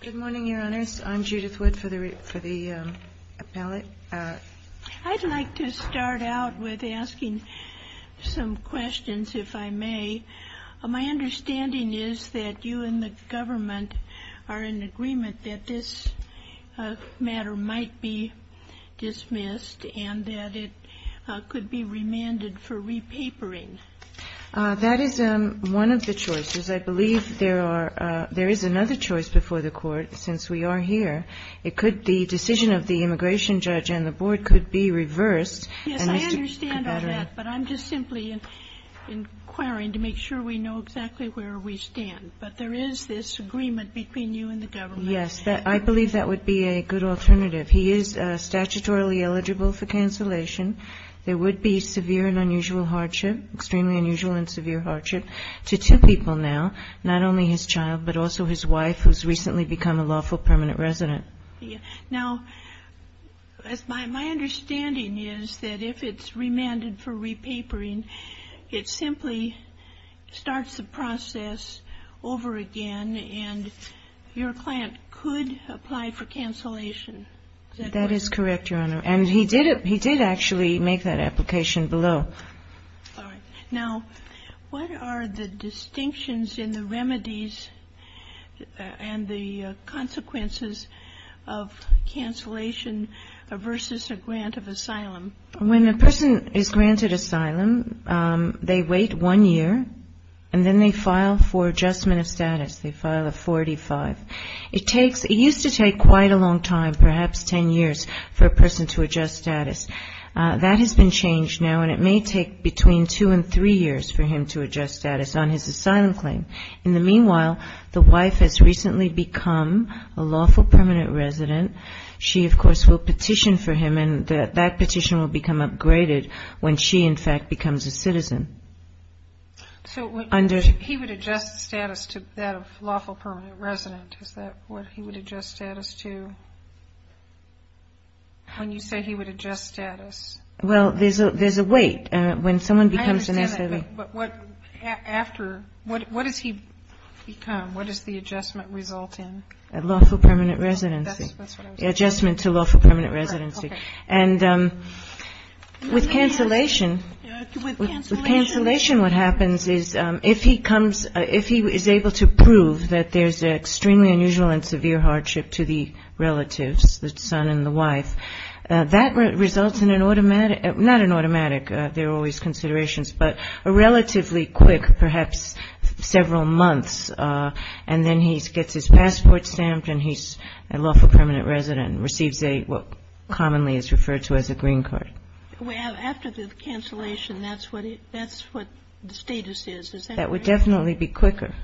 Good morning, Your Honors. I'm Judith Wood for the Appellate. I'd like to start out with asking some questions, if I may. My understanding is that you and the government are in agreement that this matter might be dismissed and that it could be remanded for repapering. That is one of the choices. I believe there are – there is another choice before the Court, since we are here. It could – the decision of the immigration judge and the board could be reversed. And Mr. Kabatera – Yes, I understand all that, but I'm just simply inquiring to make sure we know exactly where we stand. But there is this agreement between you and the government. Yes, I believe that would be a good alternative. He is statutorily eligible for cancellation. There would be severe and unusual hardship, extremely unusual and severe hardship, to two people now, not only his child, but also his wife, who's recently become a lawful permanent resident. Now, my understanding is that if it's remanded for repapering, it simply starts the process over again, and your client could apply for cancellation. That is correct, Your Honor. And he did actually make that application below. All right. Now, what are the distinctions in the remedies and the consequences of cancellation versus a grant of asylum? When a person is granted asylum, they wait one year, and then they file for adjustment of status. They file a 45. It takes – it used to take quite a long time, perhaps 10 years, for a person to adjust status. That has been changed now, and it may take between two and three years for him to adjust status on his asylum claim. In the meanwhile, the wife has recently become a lawful permanent resident. She, of course, will petition for him, and that petition will become upgraded when she, in fact, becomes a citizen. So he would adjust status to that of lawful permanent resident. Is that what he would adjust status to? When you say he would adjust status? Well, there's a wait. When someone becomes an asylum – I understand that, but what – after – what does he become? What does the adjustment result in? A lawful permanent residency. That's what I was going to say. Adjustment to lawful permanent residency. All right. Okay. And with cancellation – With cancellation – With cancellation, what happens is if he comes – if he is able to prove that there's an extremely unusual and severe hardship to the relatives, the son and the wife, that results in an automatic – not an automatic. There are always considerations, but a relatively quick, perhaps several months, and then he gets his passport stamped and he's a lawful permanent resident, receives what commonly is referred to as a green card. After the cancellation, that's what the status is. Is that right? That would definitely be quicker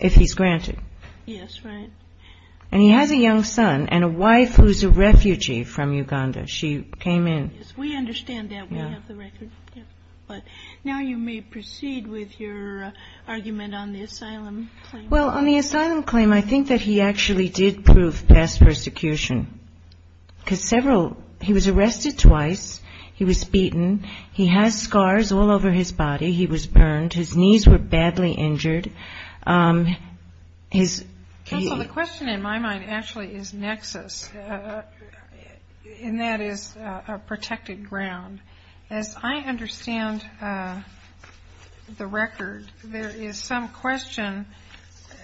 if he's granted. Yes, right. And he has a young son and a wife who's a refugee from Uganda. She came in. Yes, we understand that. We have the record. But now you may proceed with your argument on the asylum claim. Well, on the asylum claim, I think that he actually did prove past persecution. Because several – he was arrested twice. He was beaten. He has scars all over his body. He was burned. His knees were badly injured. His – Counsel, the question in my mind actually is nexus, and that is a protected ground. As I understand the record, there is some question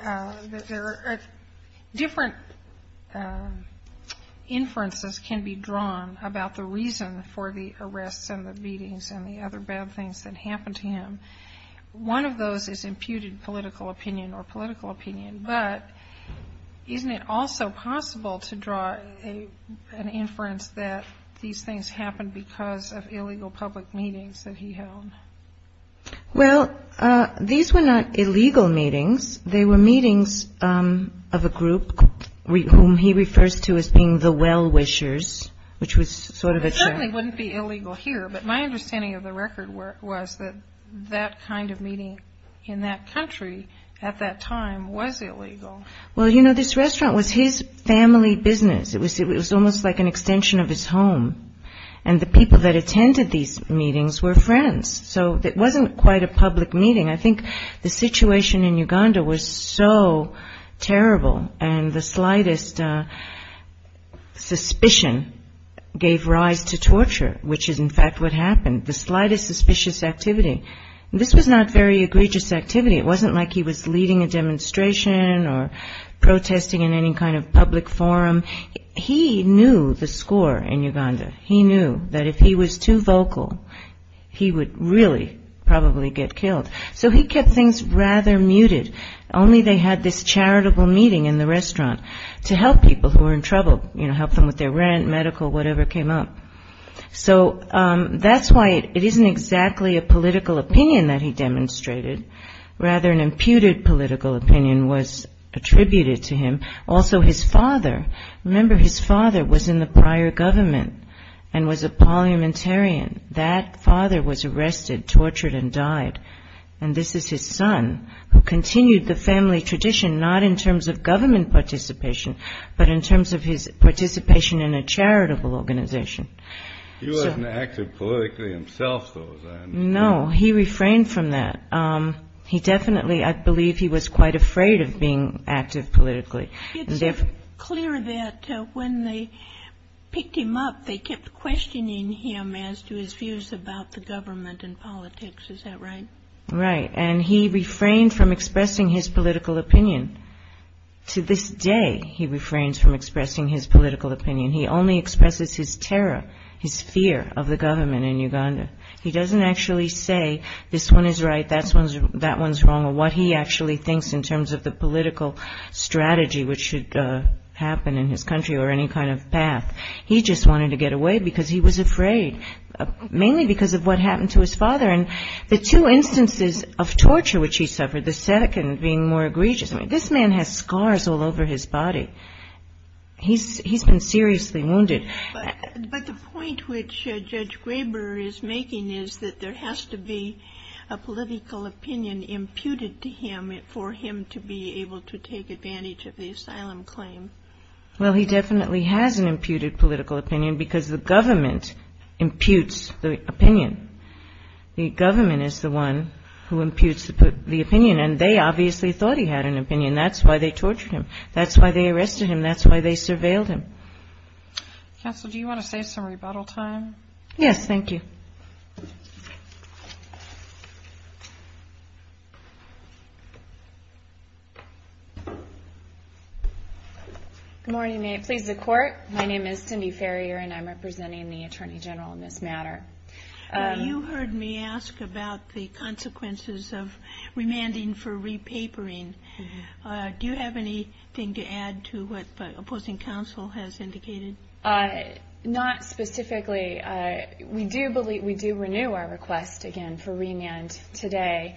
that there are – different inferences can be drawn about the reason for the arrests and the beatings and the other bad things that happened to him. One of those is imputed political opinion or political opinion. But isn't it also possible to draw an inference that these things happened because of illegal public meetings that he held? Well, these were not illegal meetings. They were meetings of a group whom he refers to as being the well-wishers, which was sort of a – Well, it certainly wouldn't be illegal here. But my understanding of the record was that that kind of meeting in that country at that time was illegal. Well, you know, this restaurant was his family business. It was almost like an extension of his home. And the people that attended these meetings were friends. So it wasn't quite a public meeting. I think the situation in Uganda was so terrible, and the slightest suspicion gave rise to torture, which is in fact what happened, the slightest suspicious activity. This was not very egregious activity. It wasn't like he was leading a demonstration or protesting in any kind of public forum. He knew the score in Uganda. He knew that if he was too vocal, he would really probably get killed. So he kept things rather muted. Only they had this charitable meeting in the restaurant to help people who were in trouble, you know, help them with their rent, medical, whatever came up. So that's why it isn't exactly a political opinion that he demonstrated. Rather, an imputed political opinion was attributed to him. Also, his father, remember, his father was in the prior government and was a parliamentarian. That father was arrested, tortured, and died. And this is his son, who continued the family tradition, not in terms of government participation, but in terms of his participation in a charitable organization. He wasn't active politically himself, though. No, he refrained from that. He definitely, I believe he was quite afraid of being active politically. It's clear that when they picked him up, they kept questioning him as to his views about the government and politics. Is that right? Right. And he refrained from expressing his political opinion. To this day, he refrains from expressing his political opinion. He only expresses his terror, his fear of the government in Uganda. He doesn't actually say this one is right, that one's wrong, or what he actually thinks in terms of the political strategy which should happen in his country or any kind of path. He just wanted to get away because he was afraid, mainly because of what happened to his father. And the two instances of torture which he suffered, the second being more egregious. This man has scars all over his body. He's been seriously wounded. But the point which Judge Graber is making is that there has to be a political opinion imputed to him for him to be able to take advantage of the asylum claim. Well, he definitely has an imputed political opinion because the government imputes the opinion. The government is the one who imputes the opinion, and they obviously thought he had an opinion. That's why they tortured him. That's why they arrested him. That's why they surveilled him. Counsel, do you want to save some rebuttal time? Yes, thank you. Good morning. May it please the Court. My name is Cindy Farrier, and I'm representing the Attorney General in this matter. You heard me ask about the consequences of remanding for repapering. Do you have anything to add to what the opposing counsel has indicated? Not specifically. We do renew our request, again, for remand today.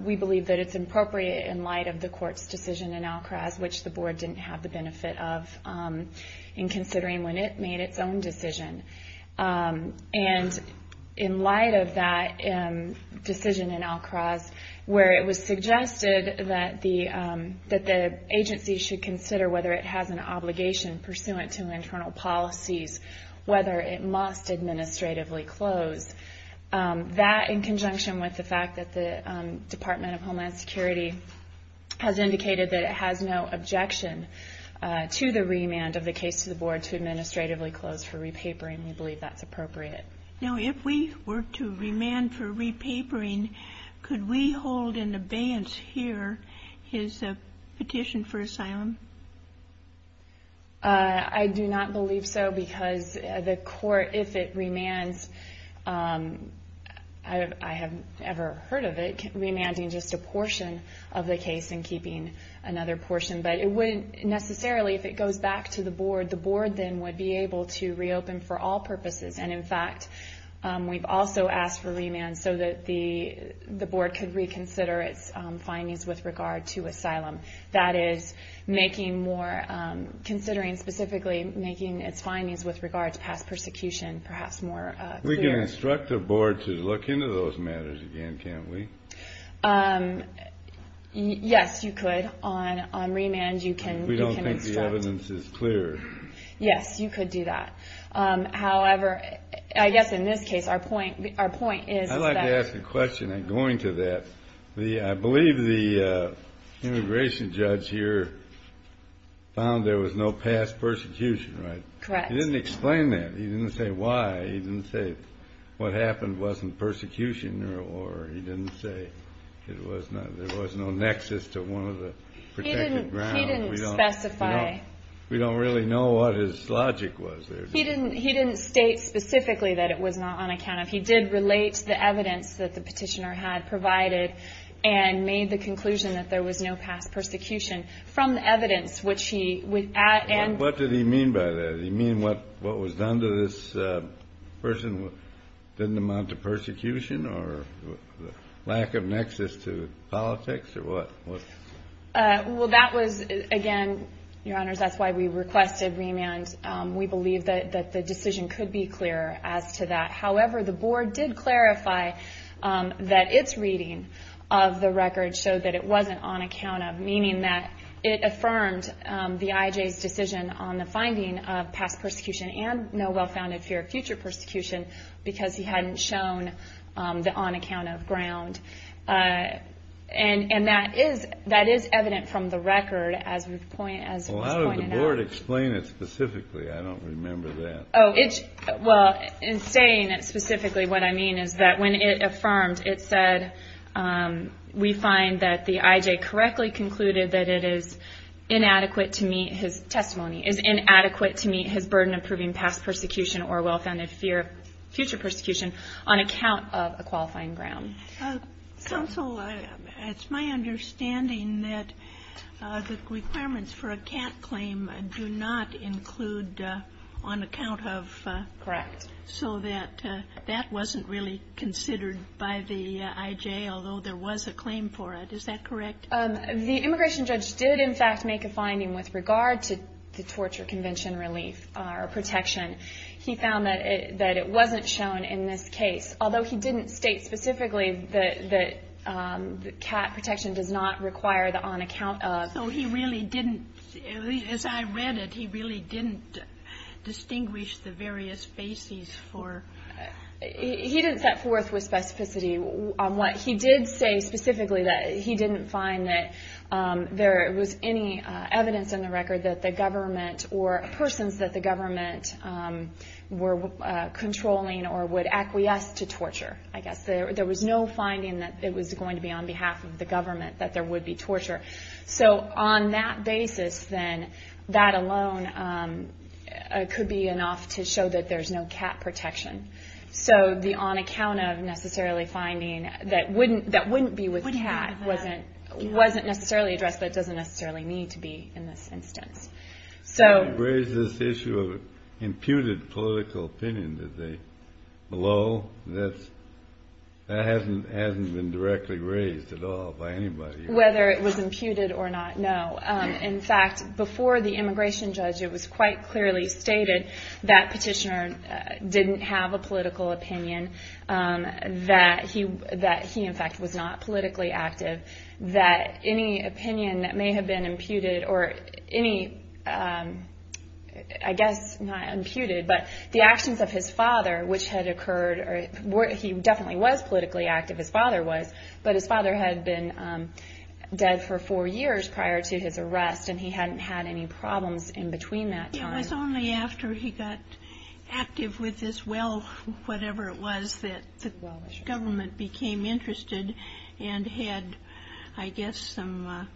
We believe that it's appropriate in light of the Court's decision in Alcraz, which the Board didn't have the benefit of in considering when it made its own decision. And in light of that decision in Alcraz, where it was suggested that the agency should consider whether it has an obligation pursuant to internal policies, whether it must administratively close. That, in conjunction with the fact that the Department of Homeland Security has indicated that it has no objection to the remand of the case to the Board to administratively close for repapering, we believe that's appropriate. Now, if we were to remand for repapering, could we hold in abeyance here his petition for asylum? I do not believe so, because the Court, if it remands, I haven't ever heard of it, remanding just a portion of the case and keeping another portion. But it wouldn't necessarily, if it goes back to the Board, the Board then would be able to reopen for all purposes. And in fact, we've also asked for remand so that the Board could reconsider its findings with regard to asylum. That is, considering specifically making its findings with regard to past persecution perhaps more clear. We can instruct the Board to look into those matters again, can't we? Yes, you could. On remand, you can instruct. We don't think the evidence is clear. Yes, you could do that. However, I guess in this case, our point is that… Let me ask a question going to that. I believe the immigration judge here found there was no past persecution, right? Correct. He didn't explain that. He didn't say why. He didn't say what happened wasn't persecution. Or he didn't say there was no nexus to one of the protected grounds. He didn't specify. We don't really know what his logic was there. He didn't state specifically that it was not on account of. He did relate to the evidence that the petitioner had provided and made the conclusion that there was no past persecution. From the evidence, which he… What did he mean by that? Did he mean what was done to this person didn't amount to persecution or lack of nexus to politics or what? Well, that was, again, Your Honors, that's why we requested remand. We believe that the decision could be clearer as to that. However, the board did clarify that its reading of the record showed that it wasn't on account of, meaning that it affirmed the IJ's decision on the finding of past persecution and no well-founded fear of future persecution because he hadn't shown the on-account-of ground. And that is evident from the record as we've pointed out. Well, how did the board explain it specifically? I don't remember that. Oh, well, in saying it specifically, what I mean is that when it affirmed, it said we find that the IJ correctly concluded that it is inadequate to meet his testimony, is inadequate to meet his burden of proving past persecution or well-founded fear of future persecution on account of a qualifying ground. Counsel, it's my understanding that the requirements for a CAT claim do not include on account of. Correct. So that that wasn't really considered by the IJ, although there was a claim for it. Is that correct? The immigration judge did, in fact, make a finding with regard to the torture convention relief or protection. He found that it wasn't shown in this case. Although he didn't state specifically that CAT protection does not require the on-account-of. So he really didn't, as I read it, he really didn't distinguish the various bases for. He didn't set forth with specificity on what. He did say specifically that he didn't find that there was any evidence in the record that the government or persons that the government were controlling or would acquiesce to torture, I guess. There was no finding that it was going to be on behalf of the government that there would be torture. So on that basis, then, that alone could be enough to show that there's no CAT protection. So the on-account-of necessarily finding that wouldn't be with CAT wasn't necessarily addressed, but doesn't necessarily need to be in this instance. So. You raised this issue of imputed political opinion. Did they blow? That hasn't been directly raised at all by anybody. Whether it was imputed or not, no. In fact, before the immigration judge, it was quite clearly stated that Petitioner didn't have a political opinion, that he, in fact, was not politically active, that any opinion that may have been imputed or any, I guess, not imputed, but the actions of his father, which had occurred, he definitely was politically active, his father was, but his father had been dead for four years prior to his arrest, and he hadn't had any problems in between that time. It was only after he got active with this well, whatever it was, that the government became interested and had, I guess, some, I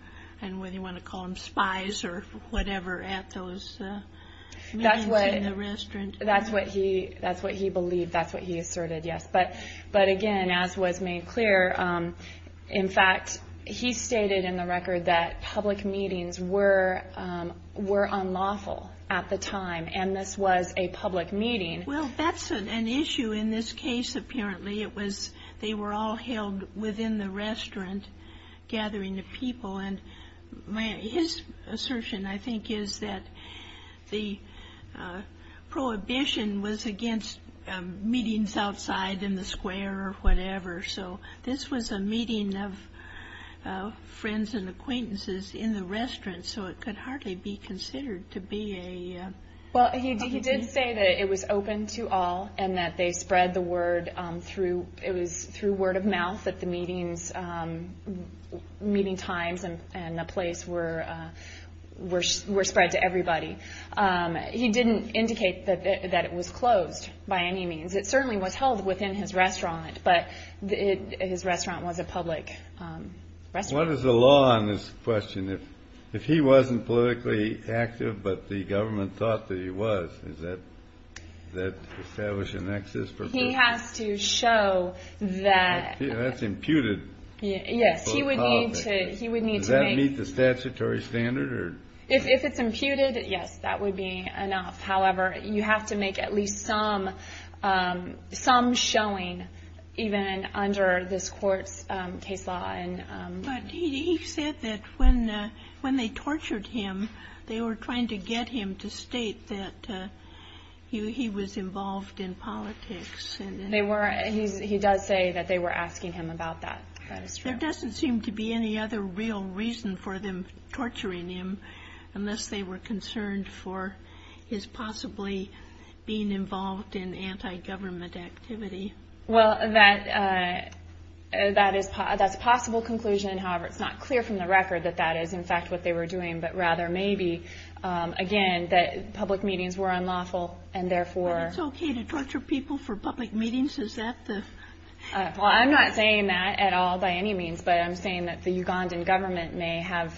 don't know whether you want to call them spies or whatever, at those meetings in the restaurant. That's what he believed, that's what he asserted, yes. But again, as was made clear, in fact, he stated in the record that public meetings were unlawful at the time, and this was a public meeting. Well, that's an issue in this case, apparently. It was, they were all held within the restaurant, gathering of people, and his assertion, I think, is that the prohibition was against meetings outside in the square or whatever, so this was a meeting of friends and acquaintances in the restaurant, so it could hardly be considered to be a public meeting. Well, he did say that it was open to all, and that they spread the word through, it was through word of mouth that the meetings, meeting times and the place were spread to everybody. He didn't indicate that it was closed by any means. It certainly was held within his restaurant, but his restaurant was a public restaurant. What is the law on this question? If he wasn't politically active, but the government thought that he was, does that establish an excess provision? He has to show that. That's imputed. Yes, he would need to make. Does that meet the statutory standard? If it's imputed, yes, that would be enough. However, you have to make at least some showing, even under this court's case law. He said that when they tortured him, they were trying to get him to state that he was involved in politics. He does say that they were asking him about that. That is true. There doesn't seem to be any other real reason for them torturing him, unless they were concerned for his possibly being involved in anti-government activity. Well, that's a possible conclusion. However, it's not clear from the record that that is in fact what they were doing, but rather maybe, again, that public meetings were unlawful. It's okay to torture people for public meetings? I'm not saying that at all by any means, but I'm saying that the Ugandan government may have,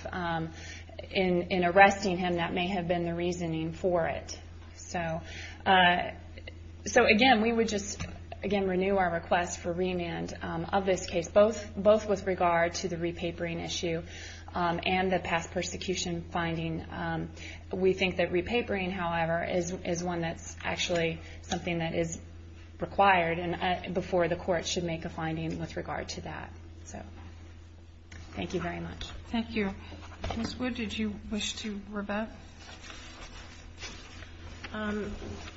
in arresting him, that may have been the reasoning for it. So, again, we would just, again, renew our request for remand of this case, both with regard to the repapering issue and the past persecution finding. We think that repapering, however, is one that's actually something that is required before the court should make a finding with regard to that. So, thank you very much. Thank you. Ms. Wood, did you wish to rebut?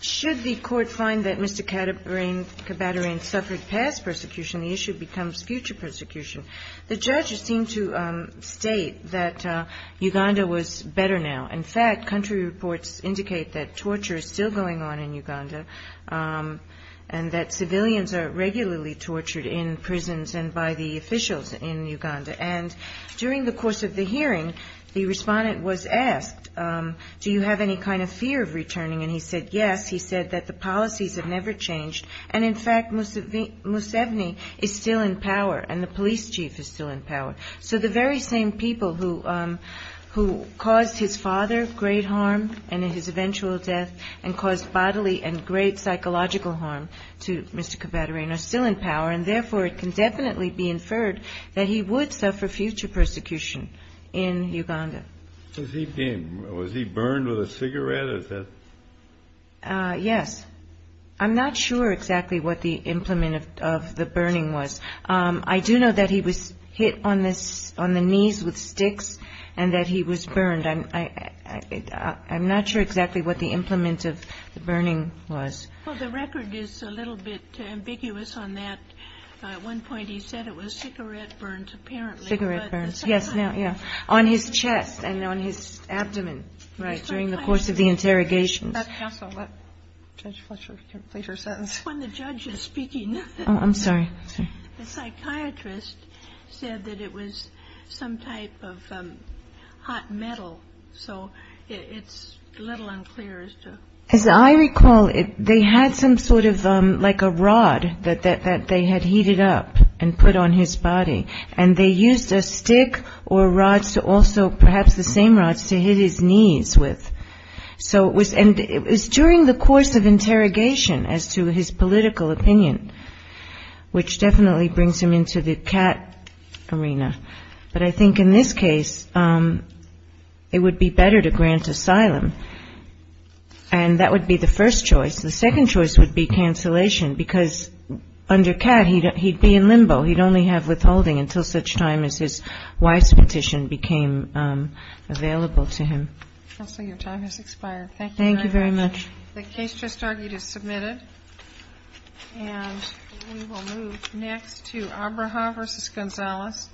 Should the court find that Mr. Kabaderein suffered past persecution, the issue becomes future persecution. The judges seem to state that Uganda was better now. In fact, country reports indicate that torture is still going on in Uganda and that civilians are regularly tortured in prisons and by the officials in Uganda. And during the course of the hearing, the Respondent was asked, do you have any kind of fear of returning? And he said, yes. He said that the policies have never changed. And, in fact, Musevni is still in power and the police chief is still in power. So the very same people who caused his father great harm and his eventual death and caused bodily and great psychological harm to Mr. Kabaderein are still in power. And, therefore, it can definitely be inferred that he would suffer future persecution in Uganda. Was he burned with a cigarette? Yes. I'm not sure exactly what the implement of the burning was. I do know that he was hit on the knees with sticks and that he was burned. I'm not sure exactly what the implement of the burning was. Well, the record is a little bit ambiguous on that. At one point he said it was cigarette burns, apparently. Cigarette burns. Yes, now, yeah. On his chest and on his abdomen, right, during the course of the interrogation. Let Judge Fletcher complete her sentence. When the judge is speaking. Oh, I'm sorry. The psychiatrist said that it was some type of hot metal. So it's a little unclear as to. As I recall, they had some sort of like a rod that they had heated up and put on his body. And they used a stick or rods to also perhaps the same rods to hit his knees with. So it was during the course of interrogation as to his political opinion, which definitely brings him into the cat arena. But I think in this case it would be better to grant asylum. And that would be the first choice. The second choice would be cancellation because under cat he'd be in limbo. He'd only have withholding until such time as his wife's petition became available to him. Counsel, your time has expired. The case just argued is submitted. And we will move next to Abraha v. Gonzalez.